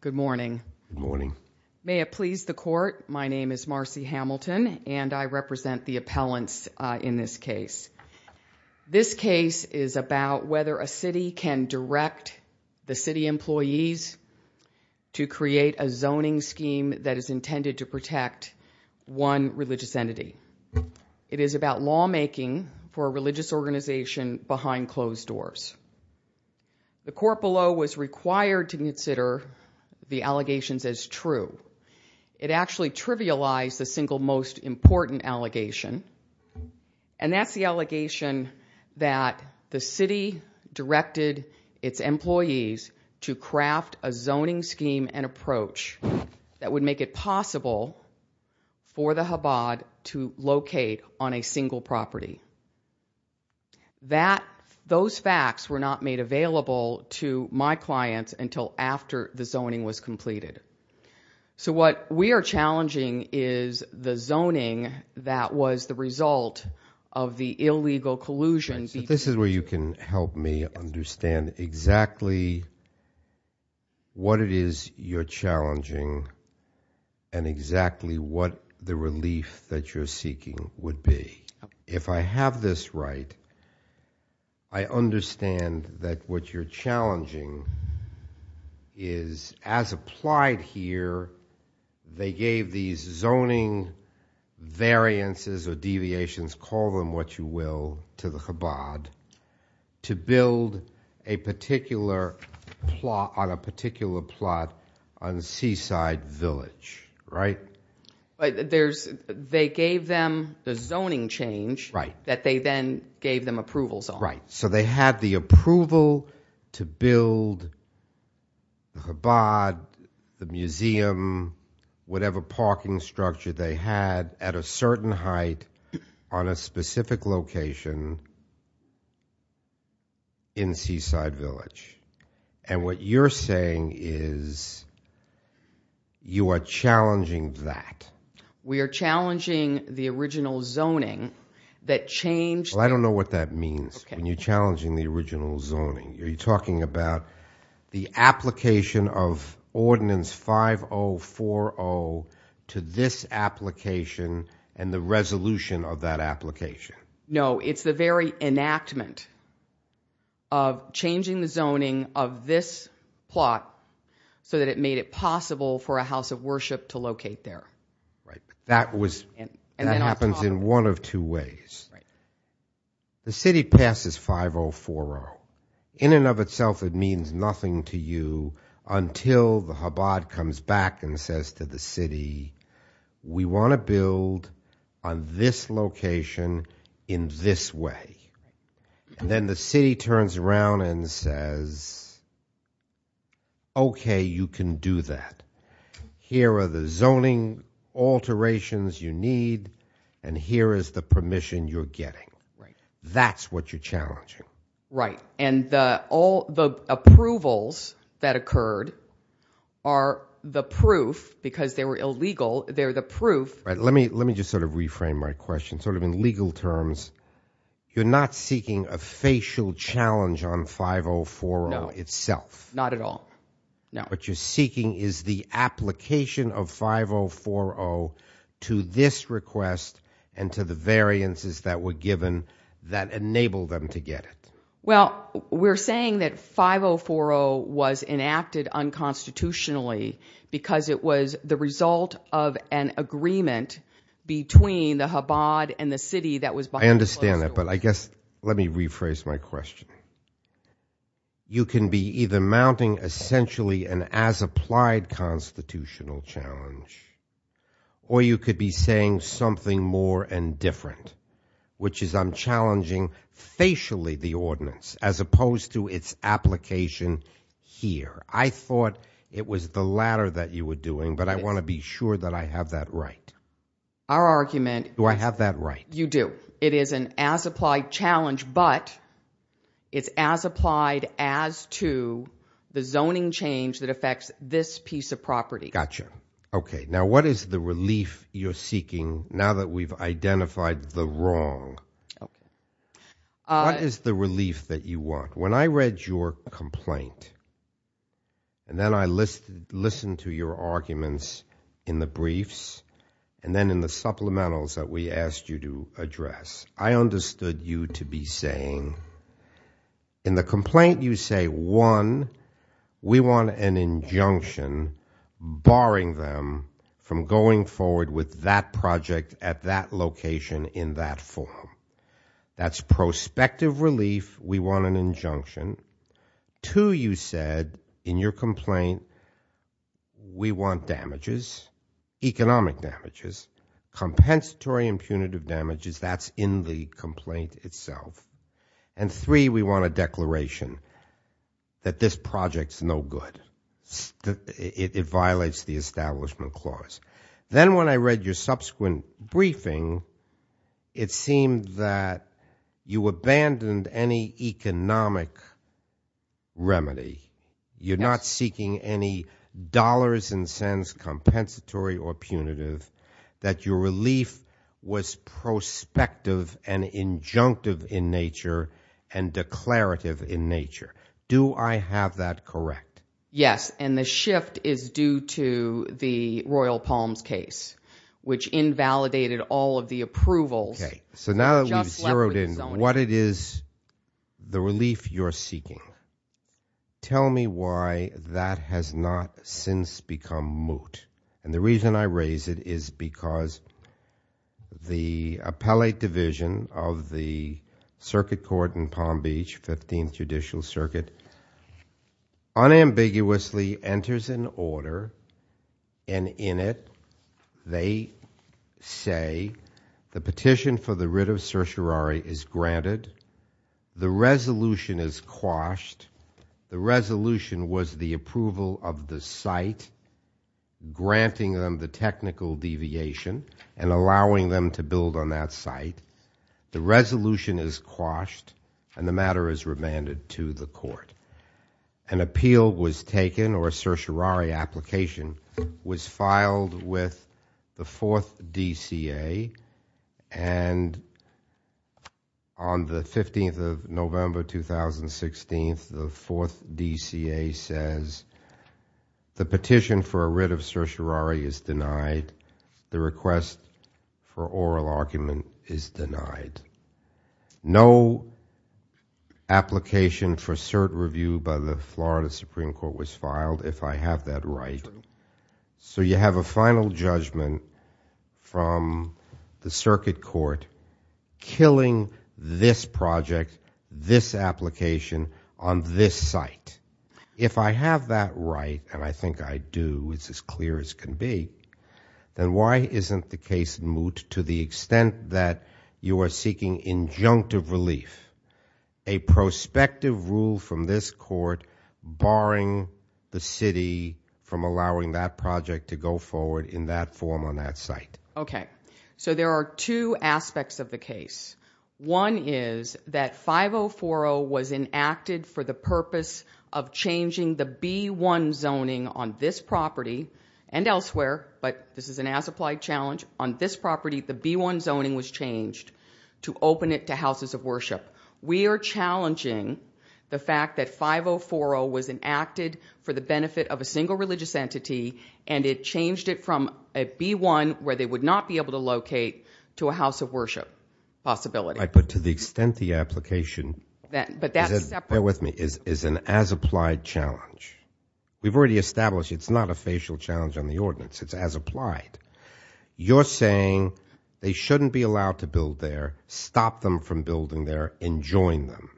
Good morning, good morning. May it please the court. My name is Marcy Hamilton and I represent the appellants in this case. This case is about whether a city can direct the city employees to create a zoning scheme that is intended to protect one religious entity. It is about lawmaking for a religious organization behind closed doors. The court below was required to consider the allegations as true. It actually trivialized the single most important allegation and that's the allegation that the city directed its employees to craft a zoning scheme and approach that would make it possible for the Chabad to locate on a single property. Those facts were not made available to my clients until after the zoning was completed. So what we are challenging is the zoning that was the result of the illegal collusion. This is where you can help me understand exactly what it is you're challenging and exactly what the relief that you're seeking would be. If I have this right, I understand that what you're challenging is, as applied here, they gave these zoning variances or deviations, call them what you will, to the Chabad to build a particular plot on a seaside village, right? They gave them the zoning change that they then gave them approvals on. Right. So they had the approval to build the Chabad, the museum, whatever parking structure they had at a certain height on a specific location in Seaside Village. And what you're saying is you are challenging that. We are challenging the original zoning that changed... I don't know what that means when you're challenging the original zoning. Are you talking about the application of that application? No, it's the very enactment of changing the zoning of this plot so that it made it possible for a house of worship to locate there. Right. That happens in one of two ways. The city passes 5040. In and of itself, it means nothing to you until the Chabad comes back and says to the city, we want to build on this location in this way. And then the city turns around and says, OK, you can do that. Here are the zoning alterations you need. And here is the permission you're getting. Right. That's what you're challenging. Right. And all the approvals that occurred are the proof because they were illegal. They're the proof. Let me let me just sort of reframe my question sort of in legal terms. You're not seeking a facial challenge on 5040 itself. Not at all. No. What you're seeking is the application of 5040 to this request and to the variances that were given that enabled them to get it. Well, we're saying that 5040 was enacted unconstitutionally because it was the result of an agreement between the Chabad and the city that was. I understand that. But I guess let me rephrase my question. You can be either mounting essentially an as applied constitutional challenge. Or you could be saying something more and different, which is I'm challenging facially the ordinance as opposed to its application here. I thought it was the latter that you were doing, but I want to be sure that I have that right. Our argument. Do I have that right? You do. It is an as applied challenge, but it's as applied as to the zoning change that affects this piece of property. Gotcha. Okay. Now, what is the relief you're seeking now that we've identified the wrong? What is the relief that you want when I read your complaint? And then I list listened to your arguments in the briefs and then in the supplementals that we asked you to address, I understood you to be saying. In the complaint, you say one, we want an injunction barring them from going forward with that project at that location in that form. That's prospective relief. We want an injunction. Two, you said in your complaint, we want damages, economic damages, compensatory and punitive damages. That's in the complaint itself. And three, we want a declaration that this project's no good. It violates the establishment clause. Then when I read your subsequent briefing, it seemed that you abandoned any economic remedy. You're not seeking any dollars and cents, compensatory or punitive, that your relief was prospective and injunctive in nature and declarative in nature. Do I have that correct? Yes, and the shift is due to the Royal Palms case, which invalidated all of the approvals. Okay, so now that we've zeroed in, what it is, the relief you're seeking, tell me why that has not since become moot. And the reason I raise it is because the appellate division of the circuit court in Palm Beach, 15th Judicial Circuit, unambiguously enters an order. And in it, they say the petition for the writ of certiorari is granted. The resolution is quashed. The resolution was the approval of the site, granting them the technical deviation and allowing them to build on that site. The resolution is quashed, and the matter is remanded to the court. An appeal was taken, or a certiorari application, was filed with the 4th DCA. And on the 15th of November, 2016, the 4th DCA says the petition for a writ of certiorari is denied. The request for oral argument is denied. No application for cert review by the Florida Supreme Court was filed, if I have that right. So you have a final judgment from the circuit court killing this project, this application, on this site. If I have that right, and I think I do, it's as clear as can be, then why isn't the case moot to the extent that you are seeking injunctive relief? A prospective rule from this court barring the city from allowing that project to go forward in that form on that site. Okay. So there are two aspects of the case. One is that 5040 was enacted for the purpose of changing the B1 zoning on this property and elsewhere, but this is an as-applied challenge. On this property, the B1 zoning was changed to open it to houses of worship. We are challenging the fact that 5040 was enacted for the benefit of a single religious entity, and it changed it from a B1 where they would not be able to locate to a house of worship possibility. But to the extent the application- But that's separate. Bear with me. It's an as-applied challenge. We've already established it's not a facial challenge on the ordinance. It's as-applied. You're saying they shouldn't be allowed to build there, stop them from building there, and join them.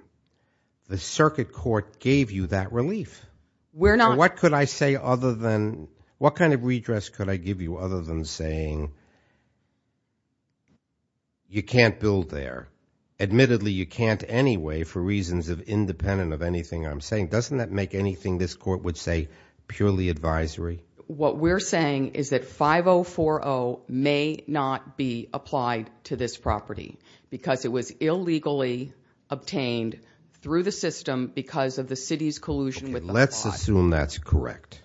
The circuit court gave you that relief. We're not- What could I say other than- What kind of redress could I give you other than saying you can't build there? Admittedly, you can't anyway for reasons independent of anything I'm saying. Doesn't that make anything this court would say purely advisory? What we're saying is that 5040 may not be applied to this property because it was illegally obtained through the system because of the city's collusion with- Let's assume that's correct.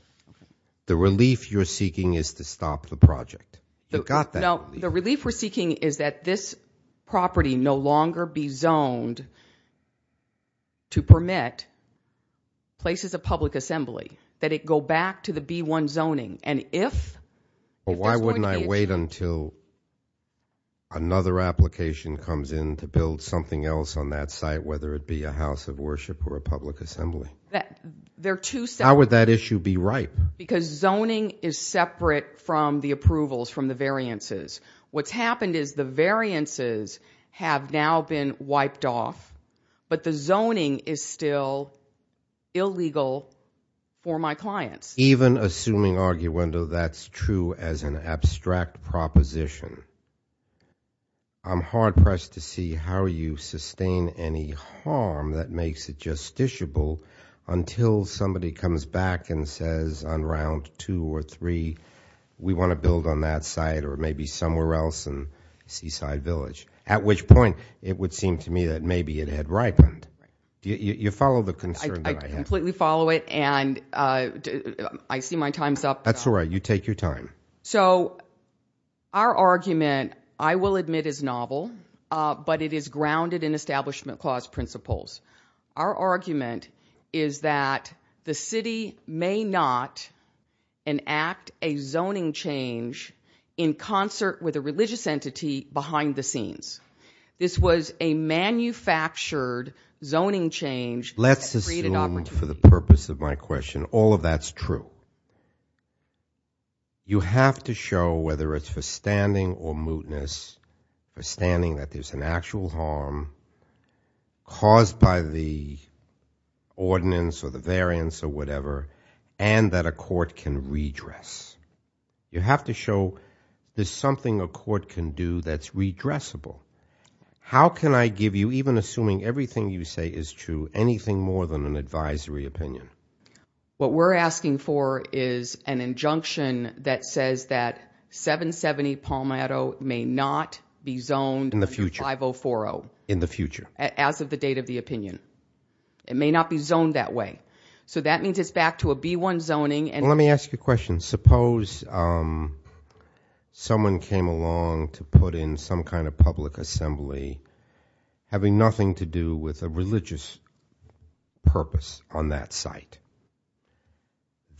The relief you're seeking is to stop the project. You got that. No, the relief we're seeking is that this property no longer be zoned to permit places of public assembly, that it go back to the B1 zoning, and if- Why wouldn't I wait until another application comes in to build something else on that site, whether it be a house of worship or a public assembly? They're two separate- How would that issue be ripe? Because zoning is separate from the approvals from the variances. What's happened is the variances have now been wiped off, but the zoning is still illegal for my clients. Even assuming, Arguendo, that's true as an abstract proposition, I'm hard-pressed to see how you sustain any harm that makes it justiciable until somebody comes back and says on round two or three, we want to build on that site or maybe somewhere else in Seaside Village, at which point it would seem to me that maybe it had ripened. You follow the concern that I have? I completely follow it, and I see my time's up. That's all right. You take your time. So our argument, I will admit, is novel, but it is grounded in Establishment Clause principles. Our argument is that the city may not enact a zoning change in concert with a religious entity behind the scenes. This was a manufactured zoning change. Let's assume, for the purpose of my question, all of that's true. You have to show, whether it's for standing or mootness, for standing that there's an actual harm caused by the ordinance or the variance or whatever, and that a court can redress. You have to show there's something a court can do that's redressable. How can I give you, even assuming everything you say is true, anything more than an advisory opinion? What we're asking for is an injunction that says that 770 Palmetto may not be zoned 5040. In the future. As of the date of the opinion. It may not be zoned that way. So that means it's back to a B-1 zoning. Let me ask you a question. Suppose someone came along to put in some kind of public assembly having nothing to do with a religious purpose on that site.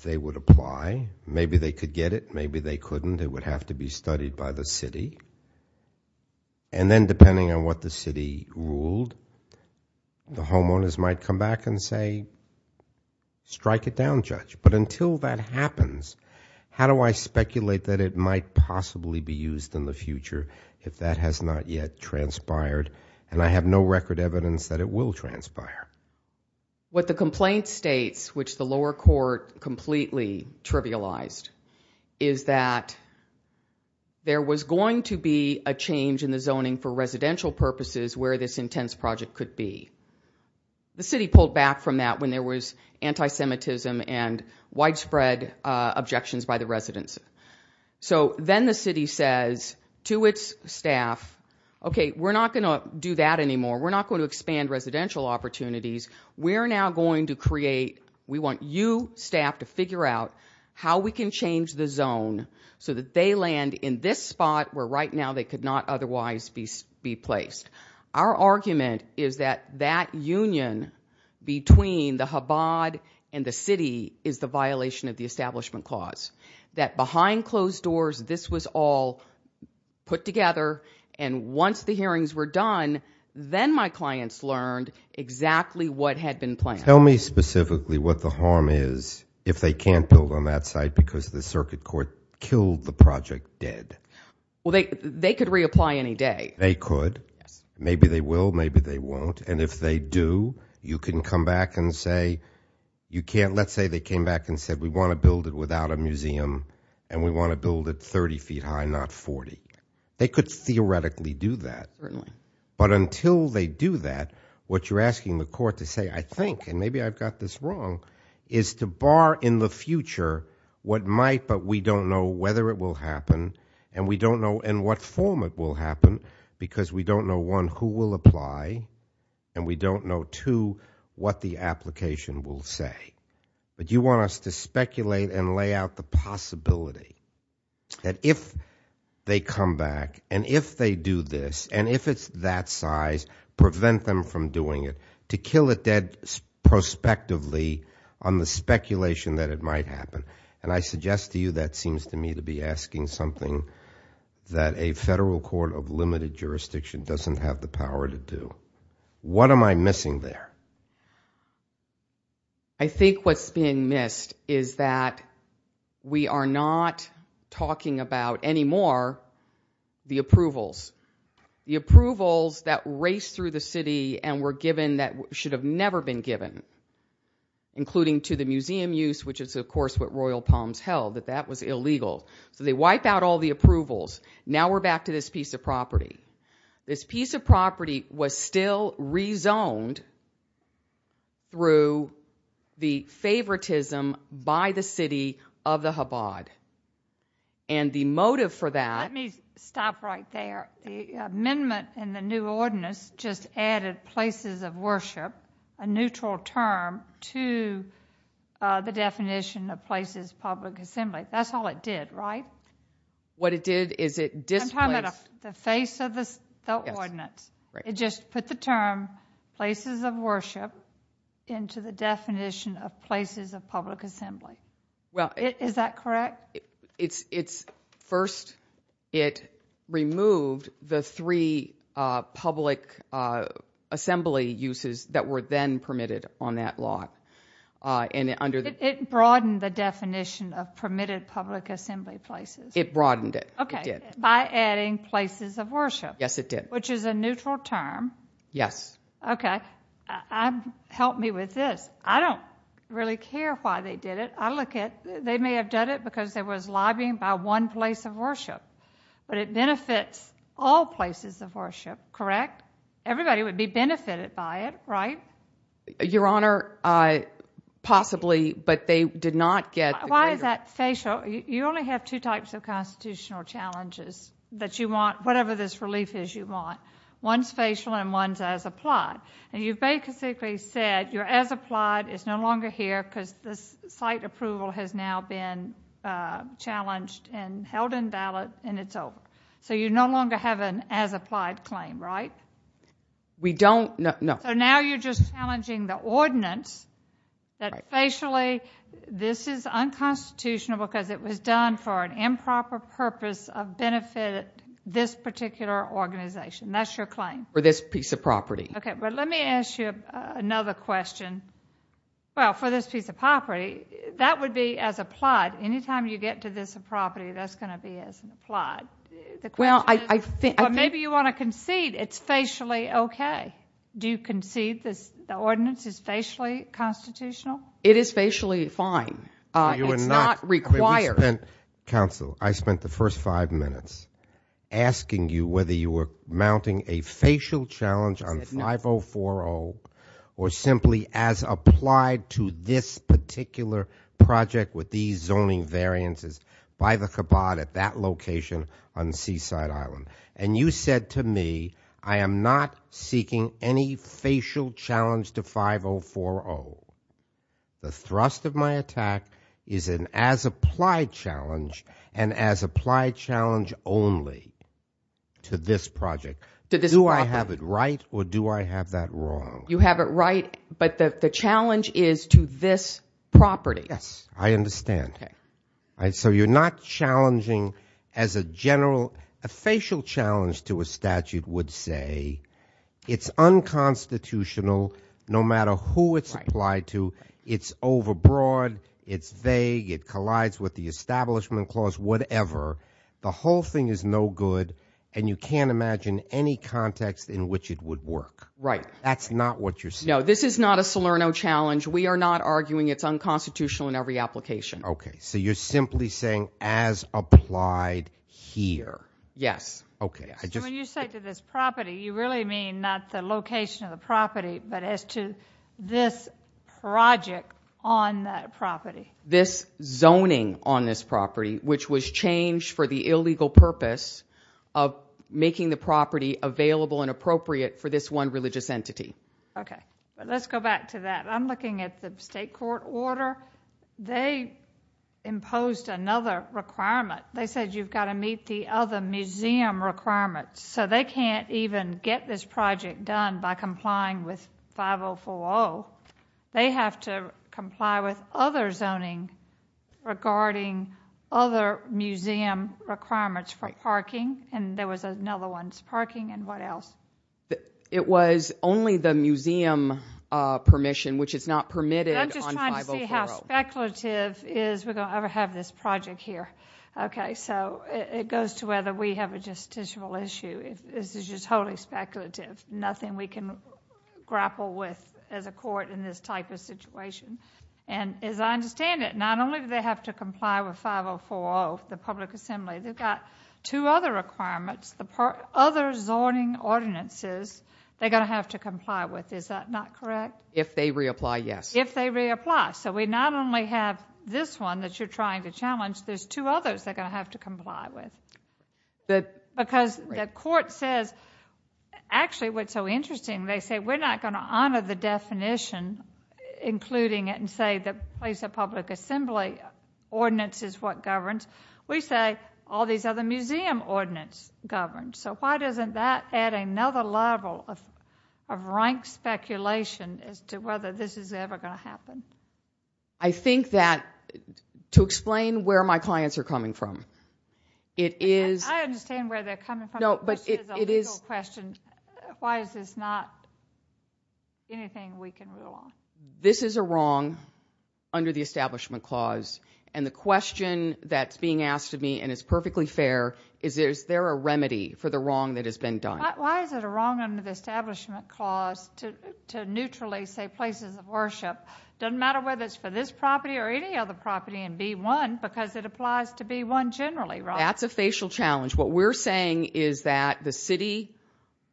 They would apply. Maybe they could get it. Maybe they couldn't. It would have to be studied by the city. And then, depending on what the city ruled, the homeowners might come back and say, strike it down, judge. But until that happens, how do I speculate that it might possibly be used in the future if that has not yet transpired? And I have no record evidence that it will transpire. What the complaint states, which the lower court completely trivialized, is that there was going to be a change in the zoning for residential purposes where this intense project could be. The city pulled back from that when there was anti-Semitism and widespread objections by the residents. So then the city says to its staff, okay, we're not going to do that anymore. We're not going to expand residential opportunities. We're now going to create. We want you staff to figure out how we can change the zone so that they land in this spot where right now they could not otherwise be placed. Our argument is that that union between the Chabad and the city is the violation of the establishment clause, that behind closed doors this was all put together, and once the hearings were done, then my clients learned exactly what had been planned. Tell me specifically what the harm is if they can't build on that site because the circuit court killed the project dead. Well, they could reapply any day. They could. Maybe they will. Maybe they won't. And if they do, you can come back and say you can't. Let's say they came back and said we want to build it without a museum and we want to build it 30 feet high, not 40. They could theoretically do that. But until they do that, what you're asking the court to say, I think, and maybe I've got this wrong, is to bar in the future what might but we don't know whether it will happen and we don't know in what form it will happen because we don't know, one, who will apply and we don't know, two, what the application will say. But you want us to speculate and lay out the possibility that if they come back and if they do this and if it's that size, prevent them from doing it, to kill it dead prospectively on the speculation that it might happen. And I suggest to you that seems to me to be asking something that a federal court of limited jurisdiction doesn't have the power to do. What am I missing there? I think what's being missed is that we are not talking about anymore the approvals. The approvals that race through the city and were given that should have never been given, including to the museum use, which is, of course, what Royal Palms held, that that was illegal. So they wipe out all the approvals. Now we're back to this piece of property. This piece of property was still rezoned through the favoritism by the city of the Chabad. And the motive for that- Let me stop right there. The amendment in the new ordinance just added places of worship, a neutral term, to the definition of places of public assembly. That's all it did, right? What it did is it displaced- I'm talking about the face of the ordinance. It just put the term places of worship into the definition of places of public assembly. Is that correct? First, it removed the three public assembly uses that were then permitted on that lot. It broadened the definition of permitted public assembly places. It broadened it. It did. By adding places of worship. Yes, it did. Which is a neutral term. Yes. Okay. Help me with this. I don't really care why they did it. I look at- they may have done it because there was lobbying by one place of worship. But it benefits all places of worship, correct? Everybody would be benefited by it, right? Your Honor, possibly, but they did not get- Why is that facial? You only have two types of constitutional challenges that you want, whatever this relief is you want. One's facial and one's as applied. You've basically said you're as applied. It's no longer here because this site approval has now been challenged and held invalid and it's over. So you no longer have an as applied claim, right? We don't- no. So now you're just challenging the ordinance that facially this is unconstitutional because it was done for an improper purpose of benefiting this particular organization. That's your claim. For this piece of property. Okay, but let me ask you another question. Well, for this piece of property, that would be as applied. Anytime you get to this property, that's going to be as applied. Well, I think- But maybe you want to concede it's facially okay. Do you concede the ordinance is facially constitutional? It is facially fine. It's not required. Counsel, I spent the first five minutes asking you whether you were mounting a facial challenge on 5040 or simply as applied to this particular project with these zoning variances by the cabot at that location on Seaside Island. And you said to me, I am not seeking any facial challenge to 5040. The thrust of my attack is an as applied challenge and as applied challenge only to this project. Do I have it right or do I have that wrong? You have it right, but the challenge is to this property. Yes, I understand. So you're not challenging as a general- a facial challenge to a statute would say it's unconstitutional no matter who it's applied to. It's overbroad. It's vague. It collides with the establishment clause, whatever. The whole thing is no good, and you can't imagine any context in which it would work. Right. That's not what you're saying. No, this is not a Salerno challenge. We are not arguing it's unconstitutional in every application. Okay. So you're simply saying as applied here. Yes. Okay. When you say to this property, you really mean not the location of the property, but as to this project on that property. This zoning on this property, which was changed for the illegal purpose of making the property available and appropriate for this one religious entity. Okay. Let's go back to that. I'm looking at the state court order. They imposed another requirement. They said you've got to meet the other museum requirements, so they can't even get this project done by complying with 5040. They have to comply with other zoning regarding other museum requirements for parking, and there was another one, parking, and what else? It was only the museum permission, which is not permitted on 5040. Let's see how speculative is we're going to ever have this project here. Okay. So it goes to whether we have a justiciable issue. This is just totally speculative, nothing we can grapple with as a court in this type of situation. And as I understand it, not only do they have to comply with 5040, the public assembly, they've got two other requirements, the other zoning ordinances they're going to have to comply with. Is that not correct? If they reapply, yes. If they reapply. So we not only have this one that you're trying to challenge, there's two others they're going to have to comply with. Because the court says, actually what's so interesting, they say we're not going to honor the definition, including it and say the place of public assembly ordinance is what governs. We say all these other museum ordinances govern. So why doesn't that add another level of rank speculation as to whether this is ever going to happen? I think that to explain where my clients are coming from, it is ‑‑ I understand where they're coming from, which is a legal question. Why is this not anything we can rule on? This is a wrong under the Establishment Clause. And the question that's being asked of me, and it's perfectly fair, is there a remedy for the wrong that has been done? Why is it a wrong under the Establishment Clause to neutrally say places of worship? It doesn't matter whether it's for this property or any other property and be one, because it applies to be one generally, right? That's a facial challenge. What we're saying is that the city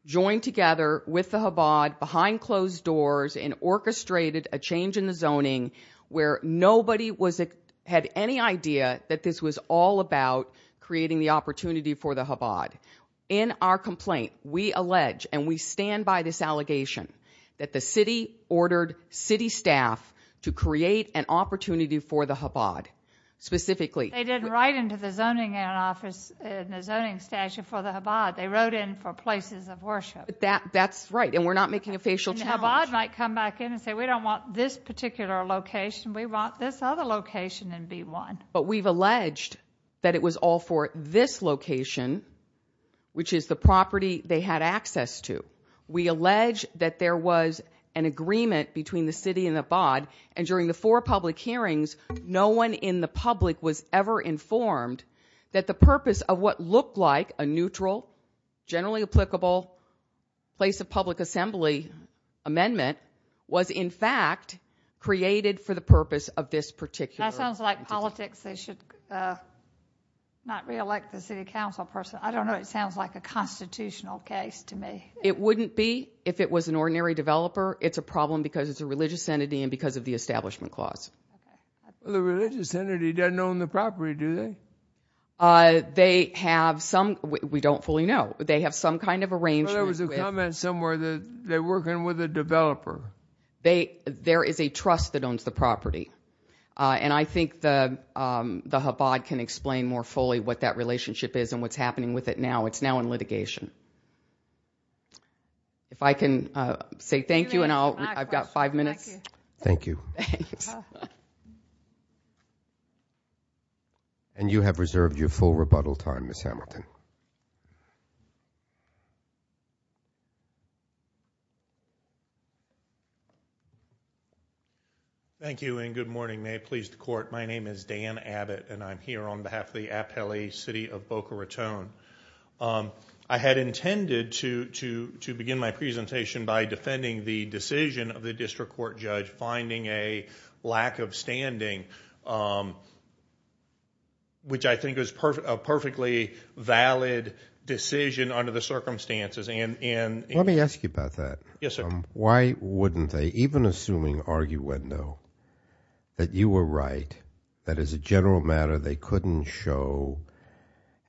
joined together with the Chabad behind closed doors and orchestrated a change in the zoning where nobody had any idea that this was all about creating the opportunity for the Chabad. In our complaint, we allege, and we stand by this allegation, that the city ordered city staff to create an opportunity for the Chabad, specifically. They didn't write into the zoning office in the zoning statute for the Chabad. They wrote in for places of worship. That's right, and we're not making a facial challenge. And the Chabad might come back in and say, we don't want this particular location. We want this other location and be one. But we've alleged that it was all for this location, which is the property they had access to. We allege that there was an agreement between the city and the Chabad, and during the four public hearings, no one in the public was ever informed that the purpose of what looked like a neutral, generally applicable place of public assembly amendment was, in fact, created for the purpose of this particular. That sounds like politics. They should not reelect the city council person. I don't know. It sounds like a constitutional case to me. It wouldn't be if it was an ordinary developer. It's a problem because it's a religious entity and because of the establishment clause. The religious entity doesn't own the property, do they? They have some. We don't fully know. They have some kind of arrangement. There was a comment somewhere that they're working with a developer. There is a trust that owns the property. And I think the Chabad can explain more fully what that relationship is and what's happening with it now. It's now in litigation. If I can say thank you, and I've got five minutes. Thank you. Thanks. And you have reserved your full rebuttal time, Ms. Hamilton. Thank you, and good morning. May it please the court. My name is Dan Abbott, and I'm here on behalf of the Apele City of Boca Raton. I had intended to begin my presentation by defending the decision of the district court judge finding a lack of standing, which I think is a perfectly valid decision under the circumstances. Let me ask you about that. Yes, sir. Why wouldn't they, even assuming arguendo, that you were right, that as a general matter they couldn't show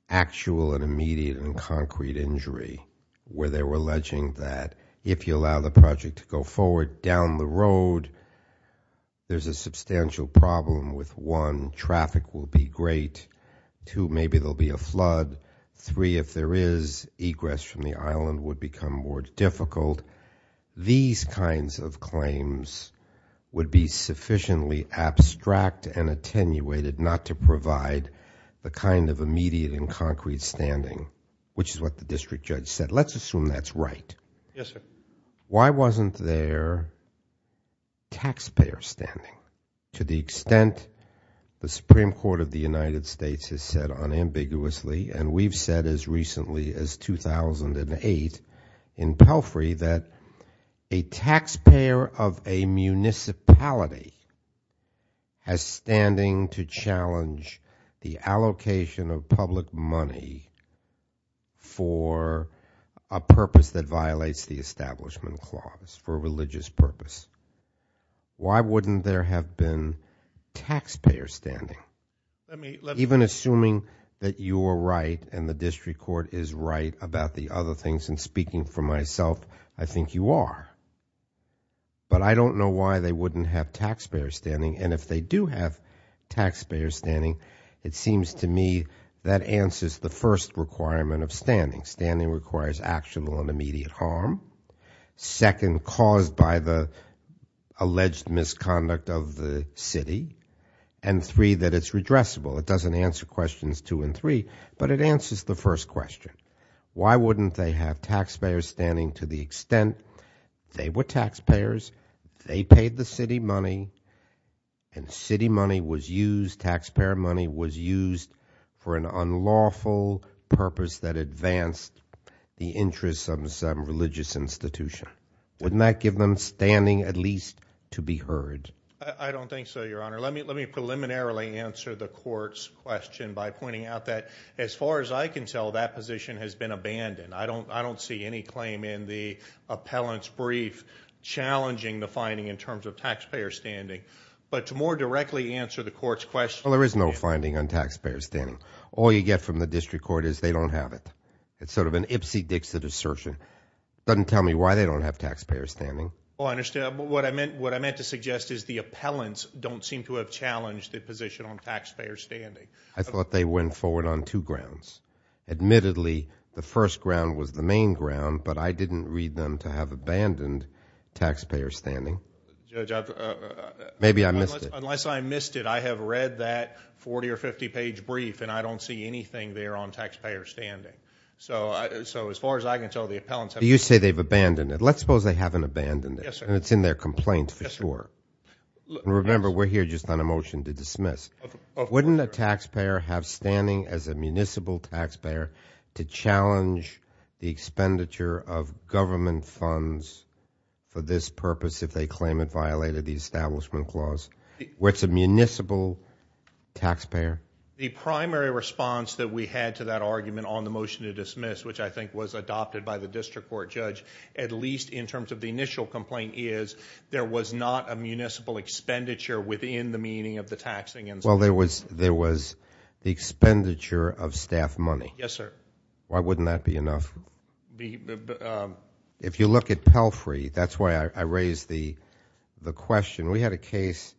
actual and immediate and concrete injury, where they were alleging that if you allow the project to go forward down the road, there's a substantial problem with, one, traffic will be great, two, maybe there'll be a flood, three, if there is, egress from the island would become more difficult. These kinds of claims would be sufficiently abstract and attenuated not to provide the kind of immediate and concrete standing, which is what the district judge said. Let's assume that's right. Yes, sir. Why wasn't there taxpayer standing? To the extent the Supreme Court of the United States has said unambiguously, and we've said as recently as 2008 in Pelfrey, that a taxpayer of a municipality has standing to challenge the allocation of public money for a purpose that violates the Establishment Clause, for a religious purpose. Why wouldn't there have been taxpayer standing? Even assuming that you were right and the district court is right about the other things, and speaking for myself, I think you are. But I don't know why they wouldn't have taxpayer standing, and if they do have taxpayer standing, it seems to me that answers the first requirement of standing. Standing requires actionable and immediate harm. Second, caused by the alleged misconduct of the city. And three, that it's redressable. It doesn't answer questions two and three, but it answers the first question. Why wouldn't they have taxpayer standing to the extent they were taxpayers, they paid the city money, and city money was used, taxpayer money was used, for an unlawful purpose that advanced the interests of some religious institution? Wouldn't that give them standing at least to be heard? I don't think so, Your Honor. Let me preliminarily answer the court's question by pointing out that, as far as I can tell, that position has been abandoned. I don't see any claim in the appellant's brief challenging the finding in terms of taxpayer standing. But to more directly answer the court's question. Well, there is no finding on taxpayer standing. All you get from the district court is they don't have it. It's sort of an Ipsy Dixit assertion. It doesn't tell me why they don't have taxpayer standing. Oh, I understand. What I meant to suggest is the appellants don't seem to have challenged the position on taxpayer standing. I thought they went forward on two grounds. Admittedly, the first ground was the main ground, but I didn't read them to have abandoned taxpayer standing. Judge, unless I missed it, I have read that 40- or 50-page brief, and I don't see anything there on taxpayer standing. So as far as I can tell, the appellants have not. You say they've abandoned it. Let's suppose they haven't abandoned it. Yes, sir. And it's in their complaint for sure. Yes, sir. Remember, we're here just on a motion to dismiss. Wouldn't a taxpayer have standing as a municipal taxpayer to challenge the expenditure of government funds for this purpose if they claim it violated the establishment clause? Where it's a municipal taxpayer. The primary response that we had to that argument on the motion to dismiss, which I think was adopted by the district court judge, at least in terms of the initial complaint, is there was not a municipal expenditure within the meaning of the taxing. Well, there was the expenditure of staff money. Yes, sir. Why wouldn't that be enough? If you look at Pelfrey, that's why I raised the question. We had a case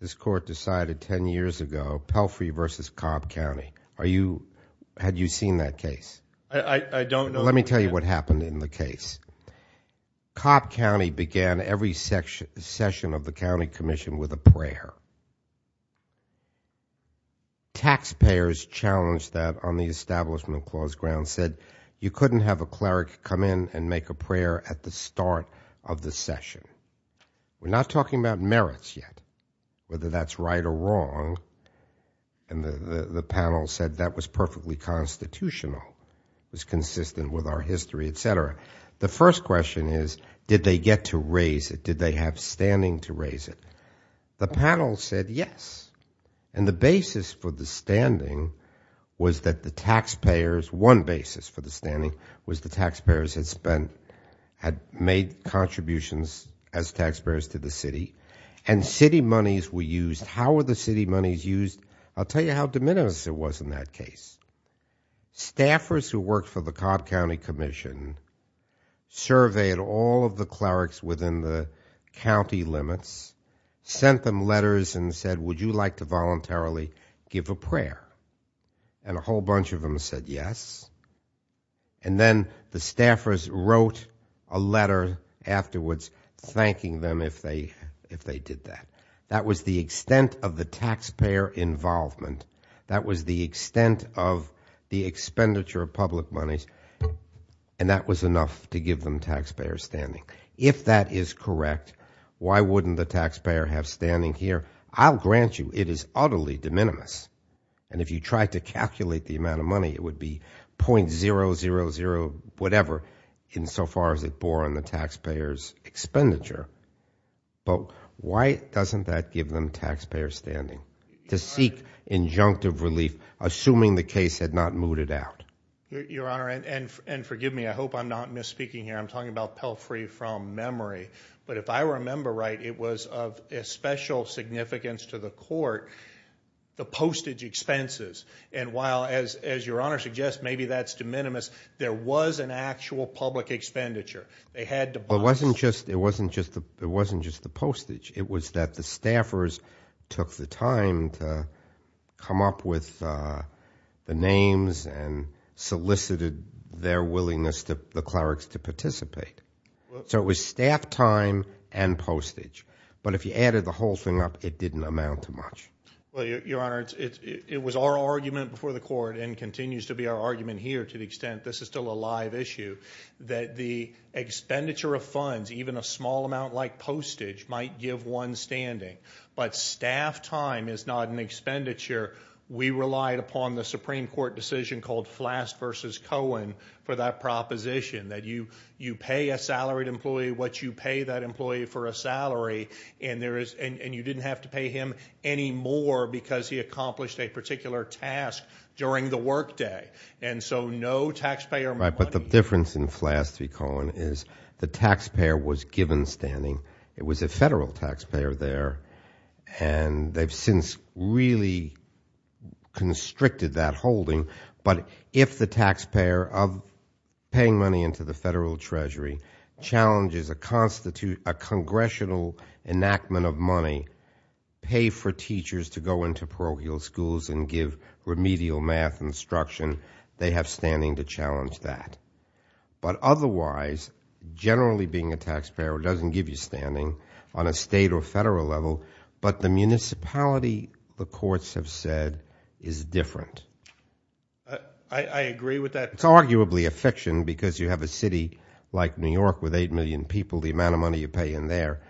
this court decided 10 years ago, Pelfrey v. Cobb County. Had you seen that case? I don't know. Let me tell you what happened in the case. Cobb County began every session of the county commission with a prayer. Taxpayers challenged that on the establishment clause grounds, said you couldn't have a cleric come in and make a prayer at the start of the session. We're not talking about merits yet, whether that's right or wrong. And the panel said that was perfectly constitutional. It was consistent with our history, et cetera. The first question is, did they get to raise it? Did they have standing to raise it? The panel said yes. And the basis for the standing was that the taxpayers, one basis for the standing, was the taxpayers had made contributions as taxpayers to the city, and city monies were used. How were the city monies used? I'll tell you how de minimis it was in that case. Staffers who worked for the Cobb County Commission surveyed all of the clerics within the county limits, sent them letters and said, would you like to voluntarily give a prayer? And a whole bunch of them said yes. And then the staffers wrote a letter afterwards thanking them if they did that. That was the extent of the taxpayer involvement. That was the extent of the expenditure of public monies, and that was enough to give them taxpayer standing. If that is correct, why wouldn't the taxpayer have standing here? I'll grant you it is utterly de minimis. And if you tried to calculate the amount of money, it would be .000 whatever, insofar as it bore on the taxpayer's expenditure. But why doesn't that give them taxpayer standing? To seek injunctive relief, assuming the case had not mooted out. Your Honor, and forgive me, I hope I'm not misspeaking here. I'm talking about Pelfrey from memory. But if I remember right, it was of special significance to the court, the postage expenses. And while, as Your Honor suggests, maybe that's de minimis, there was an actual public expenditure. It wasn't just the postage. It was that the staffers took the time to come up with the names and solicited their willingness to the clerics to participate. So it was staff time and postage. But if you added the whole thing up, it didn't amount to much. Well, Your Honor, it was our argument before the court and continues to be our argument here to the extent this is still a live issue, that the expenditure of funds, even a small amount like postage, might give one standing. But staff time is not an expenditure. We relied upon the Supreme Court decision called Flass v. Cohen for that proposition, that you pay a salaried employee what you pay that employee for a salary, and you didn't have to pay him any more because he accomplished a particular task during the workday. And so no taxpayer money. Right, but the difference in Flass v. Cohen is the taxpayer was given standing. It was a federal taxpayer there, and they've since really constricted that holding. But if the taxpayer of paying money into the federal treasury challenges a congressional enactment of money, pay for teachers to go into parochial schools and give remedial math instruction, they have standing to challenge that. But otherwise, generally being a taxpayer doesn't give you standing on a state or federal level, but the municipality, the courts have said, is different. I agree with that. It's arguably a fiction because you have a city like New York with 8 million people. The amount of money you pay in there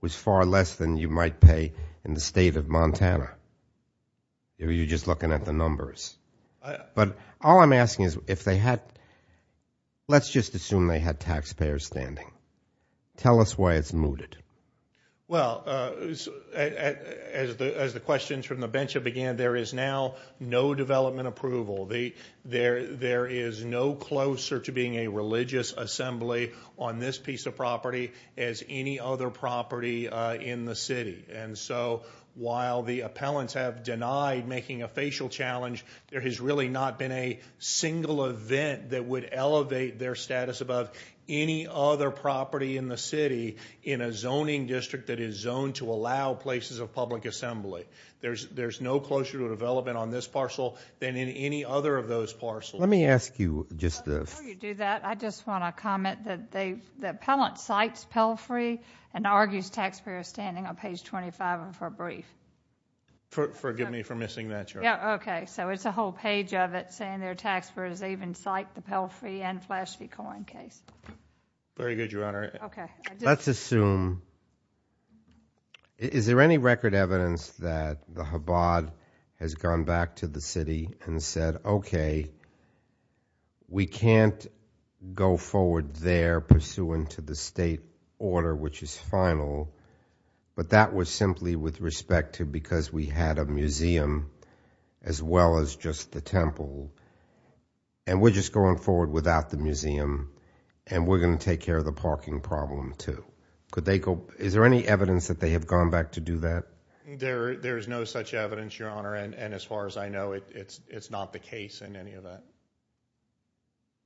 was far less than you might pay in the state of Montana. You're just looking at the numbers. But all I'm asking is if they had, let's just assume they had taxpayer standing. Tell us why it's mooted. Well, as the questions from the bench have began, there is now no development approval. There is no closer to being a religious assembly on this piece of property as any other property in the city. And so while the appellants have denied making a facial challenge, there has really not been a single event that would elevate their status above any other property in the city in a zoning district that is zoned to allow places of public assembly. There's no closer to a development on this parcel than in any other of those parcels. Let me ask you just the – Before you do that, I just want to comment that the appellant cites Pell Free and argues taxpayer standing on page 25 of her brief. Forgive me for missing that, Your Honor. Yeah, okay. So it's a whole page of it saying there are taxpayers that even cite the Pell Free and Flash Free coin case. Very good, Your Honor. Okay. Let's assume – is there any record evidence that the Chabad has gone back to the city and said, okay, we can't go forward there pursuant to the state order, which is final, but that was simply with respect to because we had a museum as well as just the temple, and we're just going forward without the museum and we're going to take care of the parking problem too. Is there any evidence that they have gone back to do that? There is no such evidence, Your Honor, and as far as I know, it's not the case in any of that.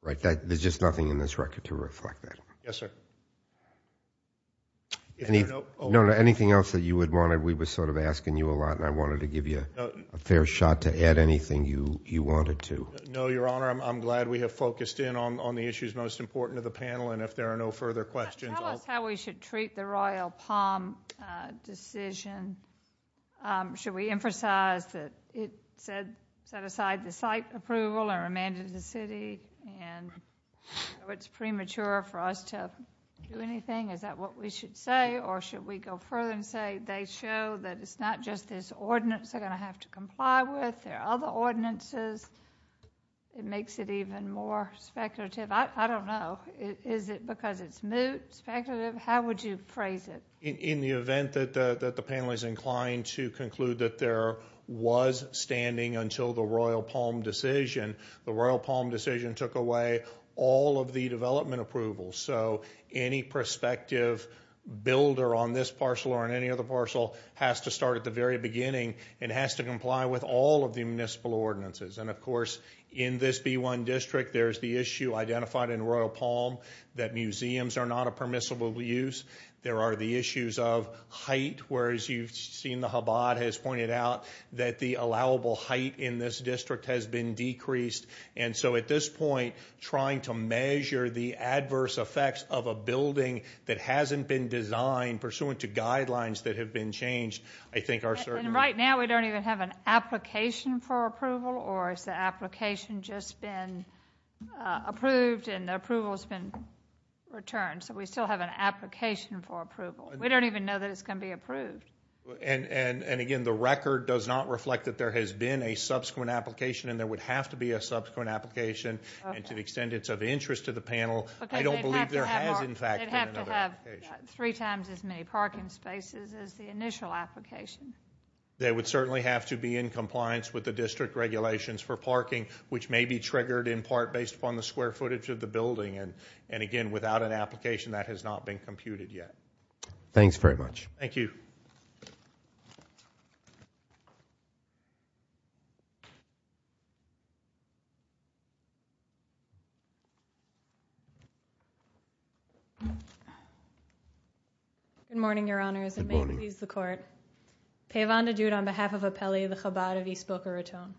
Right. There's just nothing in this record to reflect that. Yes, sir. Anything else that you would want? We were sort of asking you a lot, and I wanted to give you a fair shot to add anything you wanted to. No, Your Honor. I'm glad we have focused in on the issues most important to the panel, and if there are no further questions, I'll – Tell us how we should treat the Royal Palm decision. Should we emphasize that it set aside the site approval and remanded the city, and it's premature for us to do anything? Is that what we should say, or should we go further and say they show that it's not just this ordinance they're going to have to comply with. There are other ordinances. It makes it even more speculative. I don't know. Is it because it's moot, speculative? How would you phrase it? In the event that the panel is inclined to conclude that there was standing until the Royal Palm decision, the Royal Palm decision took away all of the development approvals, so any prospective builder on this parcel or on any other parcel has to start at the very beginning and has to comply with all of the municipal ordinances. Of course, in this B-1 district, there's the issue identified in Royal Palm that museums are not a permissible use. There are the issues of height, whereas you've seen the Chabad has pointed out that the allowable height in this district has been decreased. And so at this point, trying to measure the adverse effects of a building that hasn't been designed pursuant to guidelines that have been changed, I think are certainly... And right now we don't even have an application for approval, or has the application just been approved and the approval has been returned? So we still have an application for approval. We don't even know that it's going to be approved. And again, the record does not reflect that there has been a subsequent application and there would have to be a subsequent application. And to the extent it's of interest to the panel, I don't believe there has, in fact, been another application. They'd have to have three times as many parking spaces as the initial application. They would certainly have to be in compliance with the district regulations for parking, which may be triggered in part based upon the square footage of the building. And again, without an application, that has not been computed yet. Thanks very much. Thank you. Good morning, Your Honors. Good morning. May it please the Court. Pavan Djud on behalf of Appelli, the Chabad of East Boca Raton.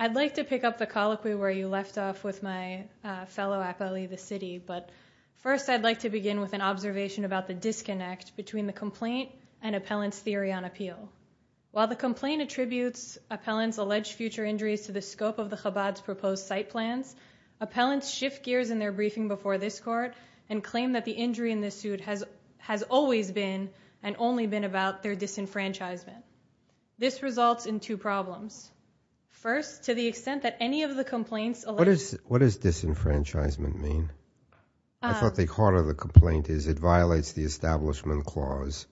I'd like to pick up the colloquy where you left off with my fellow appellee, the city. But first, I'd like to begin with an observation about the disconnect between the complaint and appellant's theory on appeal. While the complaint attributes appellants' alleged future injuries to the scope of the Chabad's proposed site plans, appellants shift gears in their briefing before this Court and claim that the injury in this suit has always been and only been about their disenfranchisement. This results in two problems. First, to the extent that any of the complaints What does disenfranchisement mean? I thought the heart of the complaint is it violates the Establishment Clause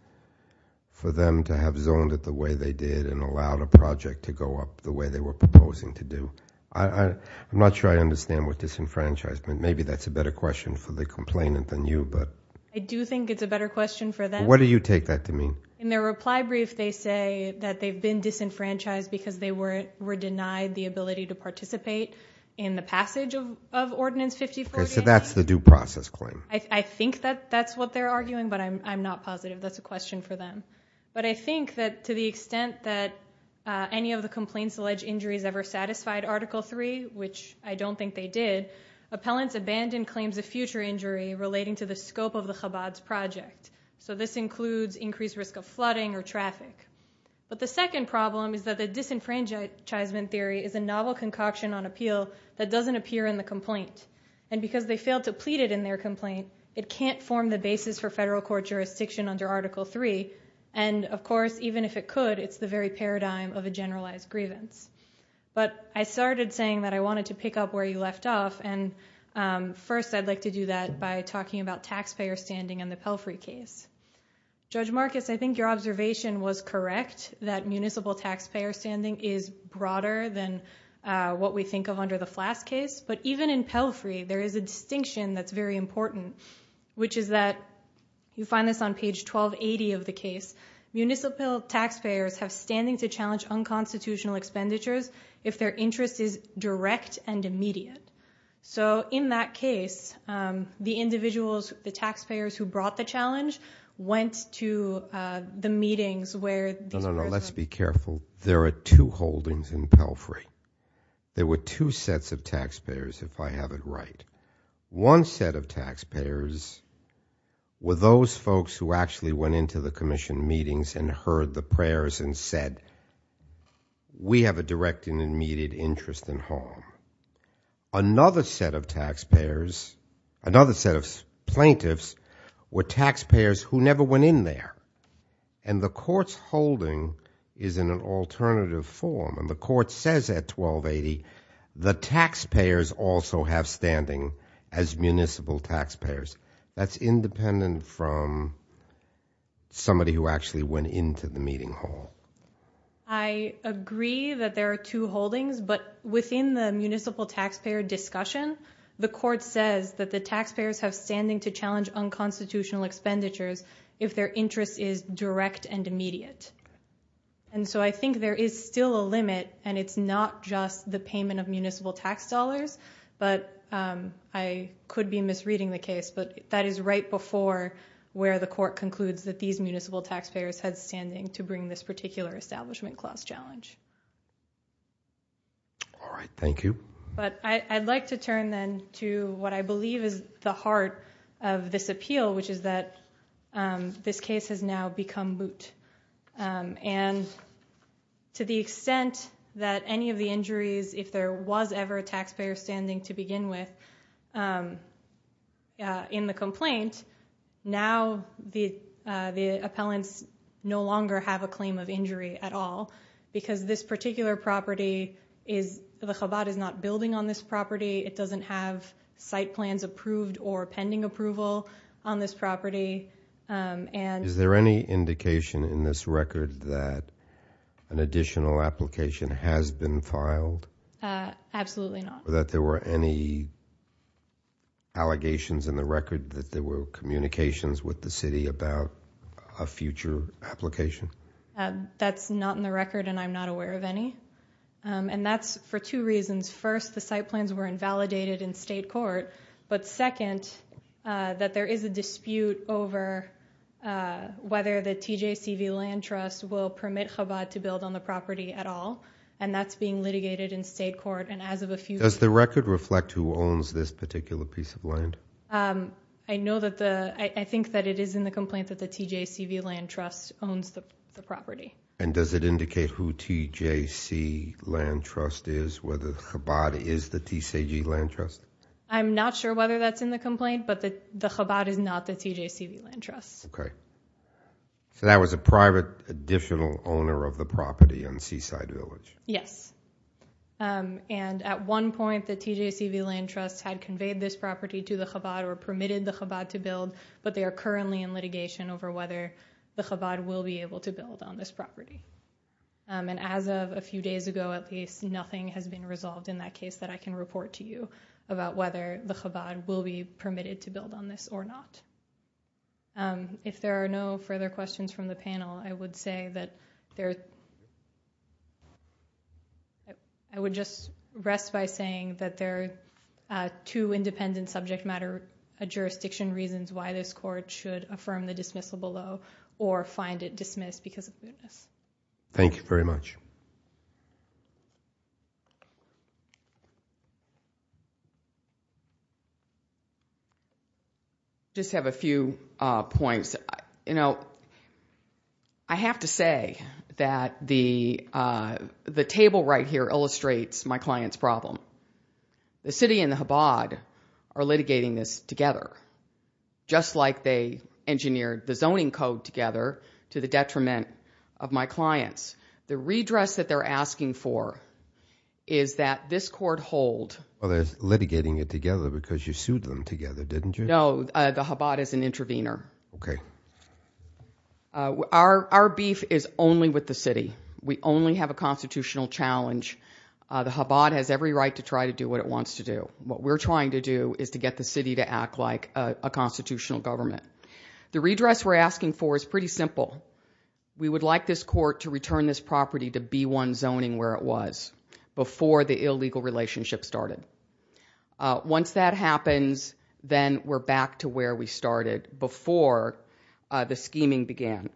for them to have zoned it the way they did and allowed a project to go up the way they were proposing to do. I'm not sure I understand what disenfranchisement, maybe that's a better question for the complainant than you. I do think it's a better question for them. What do you take that to mean? In their reply brief, they say that they've been disenfranchised because they were denied the ability to participate in the passage of Ordinance 540. So that's the due process claim. I think that's what they're arguing, but I'm not positive. That's a question for them. But I think that to the extent that any of the complaints alleged injuries ever satisfied Article 3, which I don't think they did, appellants abandon claims of future injury relating to the scope of the Chabad's project. So this includes increased risk of flooding or traffic. But the second problem is that the disenfranchisement theory is a novel concoction on appeal that doesn't appear in the complaint. And because they failed to plead it in their complaint, it can't form the basis for federal court jurisdiction under Article 3. And, of course, even if it could, it's the very paradigm of a generalized grievance. But I started saying that I wanted to pick up where you left off, and first I'd like to do that by talking about taxpayer standing in the Pelfrey case. Judge Marcus, I think your observation was correct, that municipal taxpayer standing is broader than what we think of under the Flass case. But even in Pelfrey, there is a distinction that's very important, which is that you find this on page 1280 of the case. Municipal taxpayers have standing to challenge unconstitutional expenditures if their interest is direct and immediate. So in that case, the individuals, the taxpayers who brought the challenge, went to the meetings where... No, no, no, let's be careful. There are two holdings in Pelfrey. There were two sets of taxpayers, if I have it right. One set of taxpayers were those folks who actually went into the commission meetings and heard the prayers and said, we have a direct and immediate interest in home. Another set of taxpayers, another set of plaintiffs, were taxpayers who never went in there. And the court's holding is in an alternative form. And the court says at 1280, the taxpayers also have standing as municipal taxpayers. That's independent from somebody who actually went into the meeting hall. I agree that there are two holdings, but within the municipal taxpayer discussion, the court says that the taxpayers have standing to challenge unconstitutional expenditures if their interest is direct and immediate. And so I think there is still a limit, and it's not just the payment of municipal tax dollars, but I could be misreading the case, but that is right before where the court concludes that these municipal taxpayers had standing to bring this particular establishment clause challenge. All right, thank you. But I'd like to turn, then, to what I believe is the heart of this appeal, which is that this case has now become boot. And to the extent that any of the injuries, if there was ever a taxpayer standing to begin with, in the complaint, now the appellants no longer have a claim of injury at all because this particular property is, the Chabad is not building on this property. It doesn't have site plans approved or pending approval on this property. Is there any indication in this record that an additional application has been filed? Absolutely not. That there were any allegations in the record that there were communications with the city about a future application? That's not in the record, and I'm not aware of any. And that's for two reasons. First, the site plans were invalidated in state court, but second, that there is a dispute over whether the TJCV Land Trust will permit Chabad to build on the property at all, and that's being litigated in state court. And as of a few days ago... Does the record reflect who owns this particular piece of land? I know that the, I think that it is in the complaint that the TJCV Land Trust owns the property. And does it indicate who TJC Land Trust is, whether Chabad is the TJC Land Trust? I'm not sure whether that's in the complaint, but the Chabad is not the TJCV Land Trust. Okay. So that was a private additional owner of the property on Seaside Village? Yes. And at one point, the TJCV Land Trust had conveyed this property to the Chabad or permitted the Chabad to build, but they are currently in litigation over whether the Chabad will be able to build on this property. And as of a few days ago, at least, nothing has been resolved in that case that I can report to you about whether the Chabad will be permitted to build on this or not. If there are no further questions from the panel, I would say that there... I would just rest by saying that there are two independent subject matter jurisdiction reasons why this court should affirm the dismissal below or find it dismissed because of this. Thank you very much. Just have a few points. You know, I have to say that the table right here illustrates my client's problem. The city and the Chabad are litigating this together, just like they engineered the zoning code together to the detriment of my clients. The redress that they're asking for is that this court hold... Well, they're litigating it together because you sued them together, didn't you? No, the Chabad is an intervener. OK. Our beef is only with the city. We only have a constitutional challenge. The Chabad has every right to try to do what it wants to do. What we're trying to do is to get the city to act like a constitutional government. The redress we're asking for is pretty simple. We would like this court to return this property to B1 zoning where it was before the illegal relationship started. Once that happens, then we're back to where we started before the scheming began.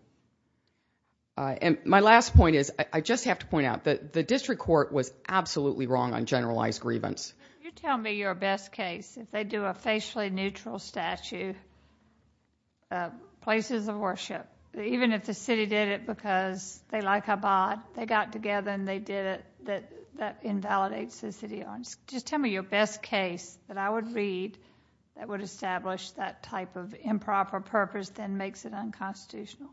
And my last point is, I just have to point out, the district court was absolutely wrong on generalized grievance. Can you tell me your best case? If they do a facially neutral statue, places of worship, even if the city did it because they like Chabad, they got together and they did it, that invalidates the city. Just tell me your best case that I would read that would establish that type of improper purpose that makes it unconstitutional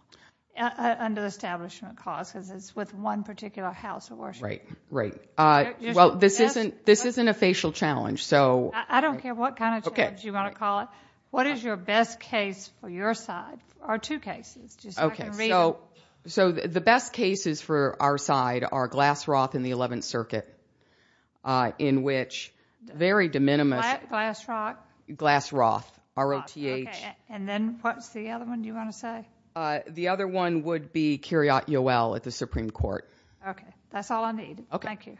under the establishment clause because it's with one particular house of worship. Right, right. Well, this isn't a facial challenge, so... I don't care what kind of challenge you want to call it. What is your best case for your side? Or two cases, just so I can read it. Okay, so the best cases for our side are Glass Roth and the 11th Circuit, in which very de minimis... What? Glass Roth? Glass Roth, R-O-T-H. And then what's the other one you want to say? The other one would be Kyriot Yoel at the Supreme Court. Okay, that's all I need. Thank you.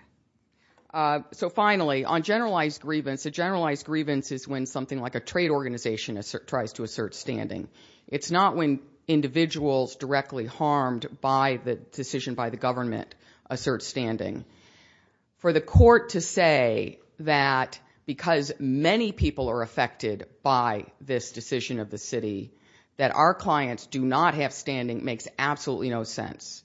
So finally, on generalized grievance, a generalized grievance is when something like a trade organization tries to assert standing. It's not when individuals directly harmed by the decision by the government assert standing. For the court to say that because many people are affected by this decision of the city, that our clients do not have standing makes absolutely no sense.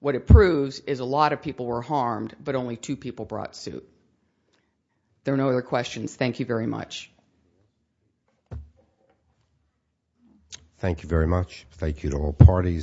What it proves is a lot of people were harmed, but only two people brought suit. If there are no other questions, thank you very much. Thank you very much. Thank you to all parties.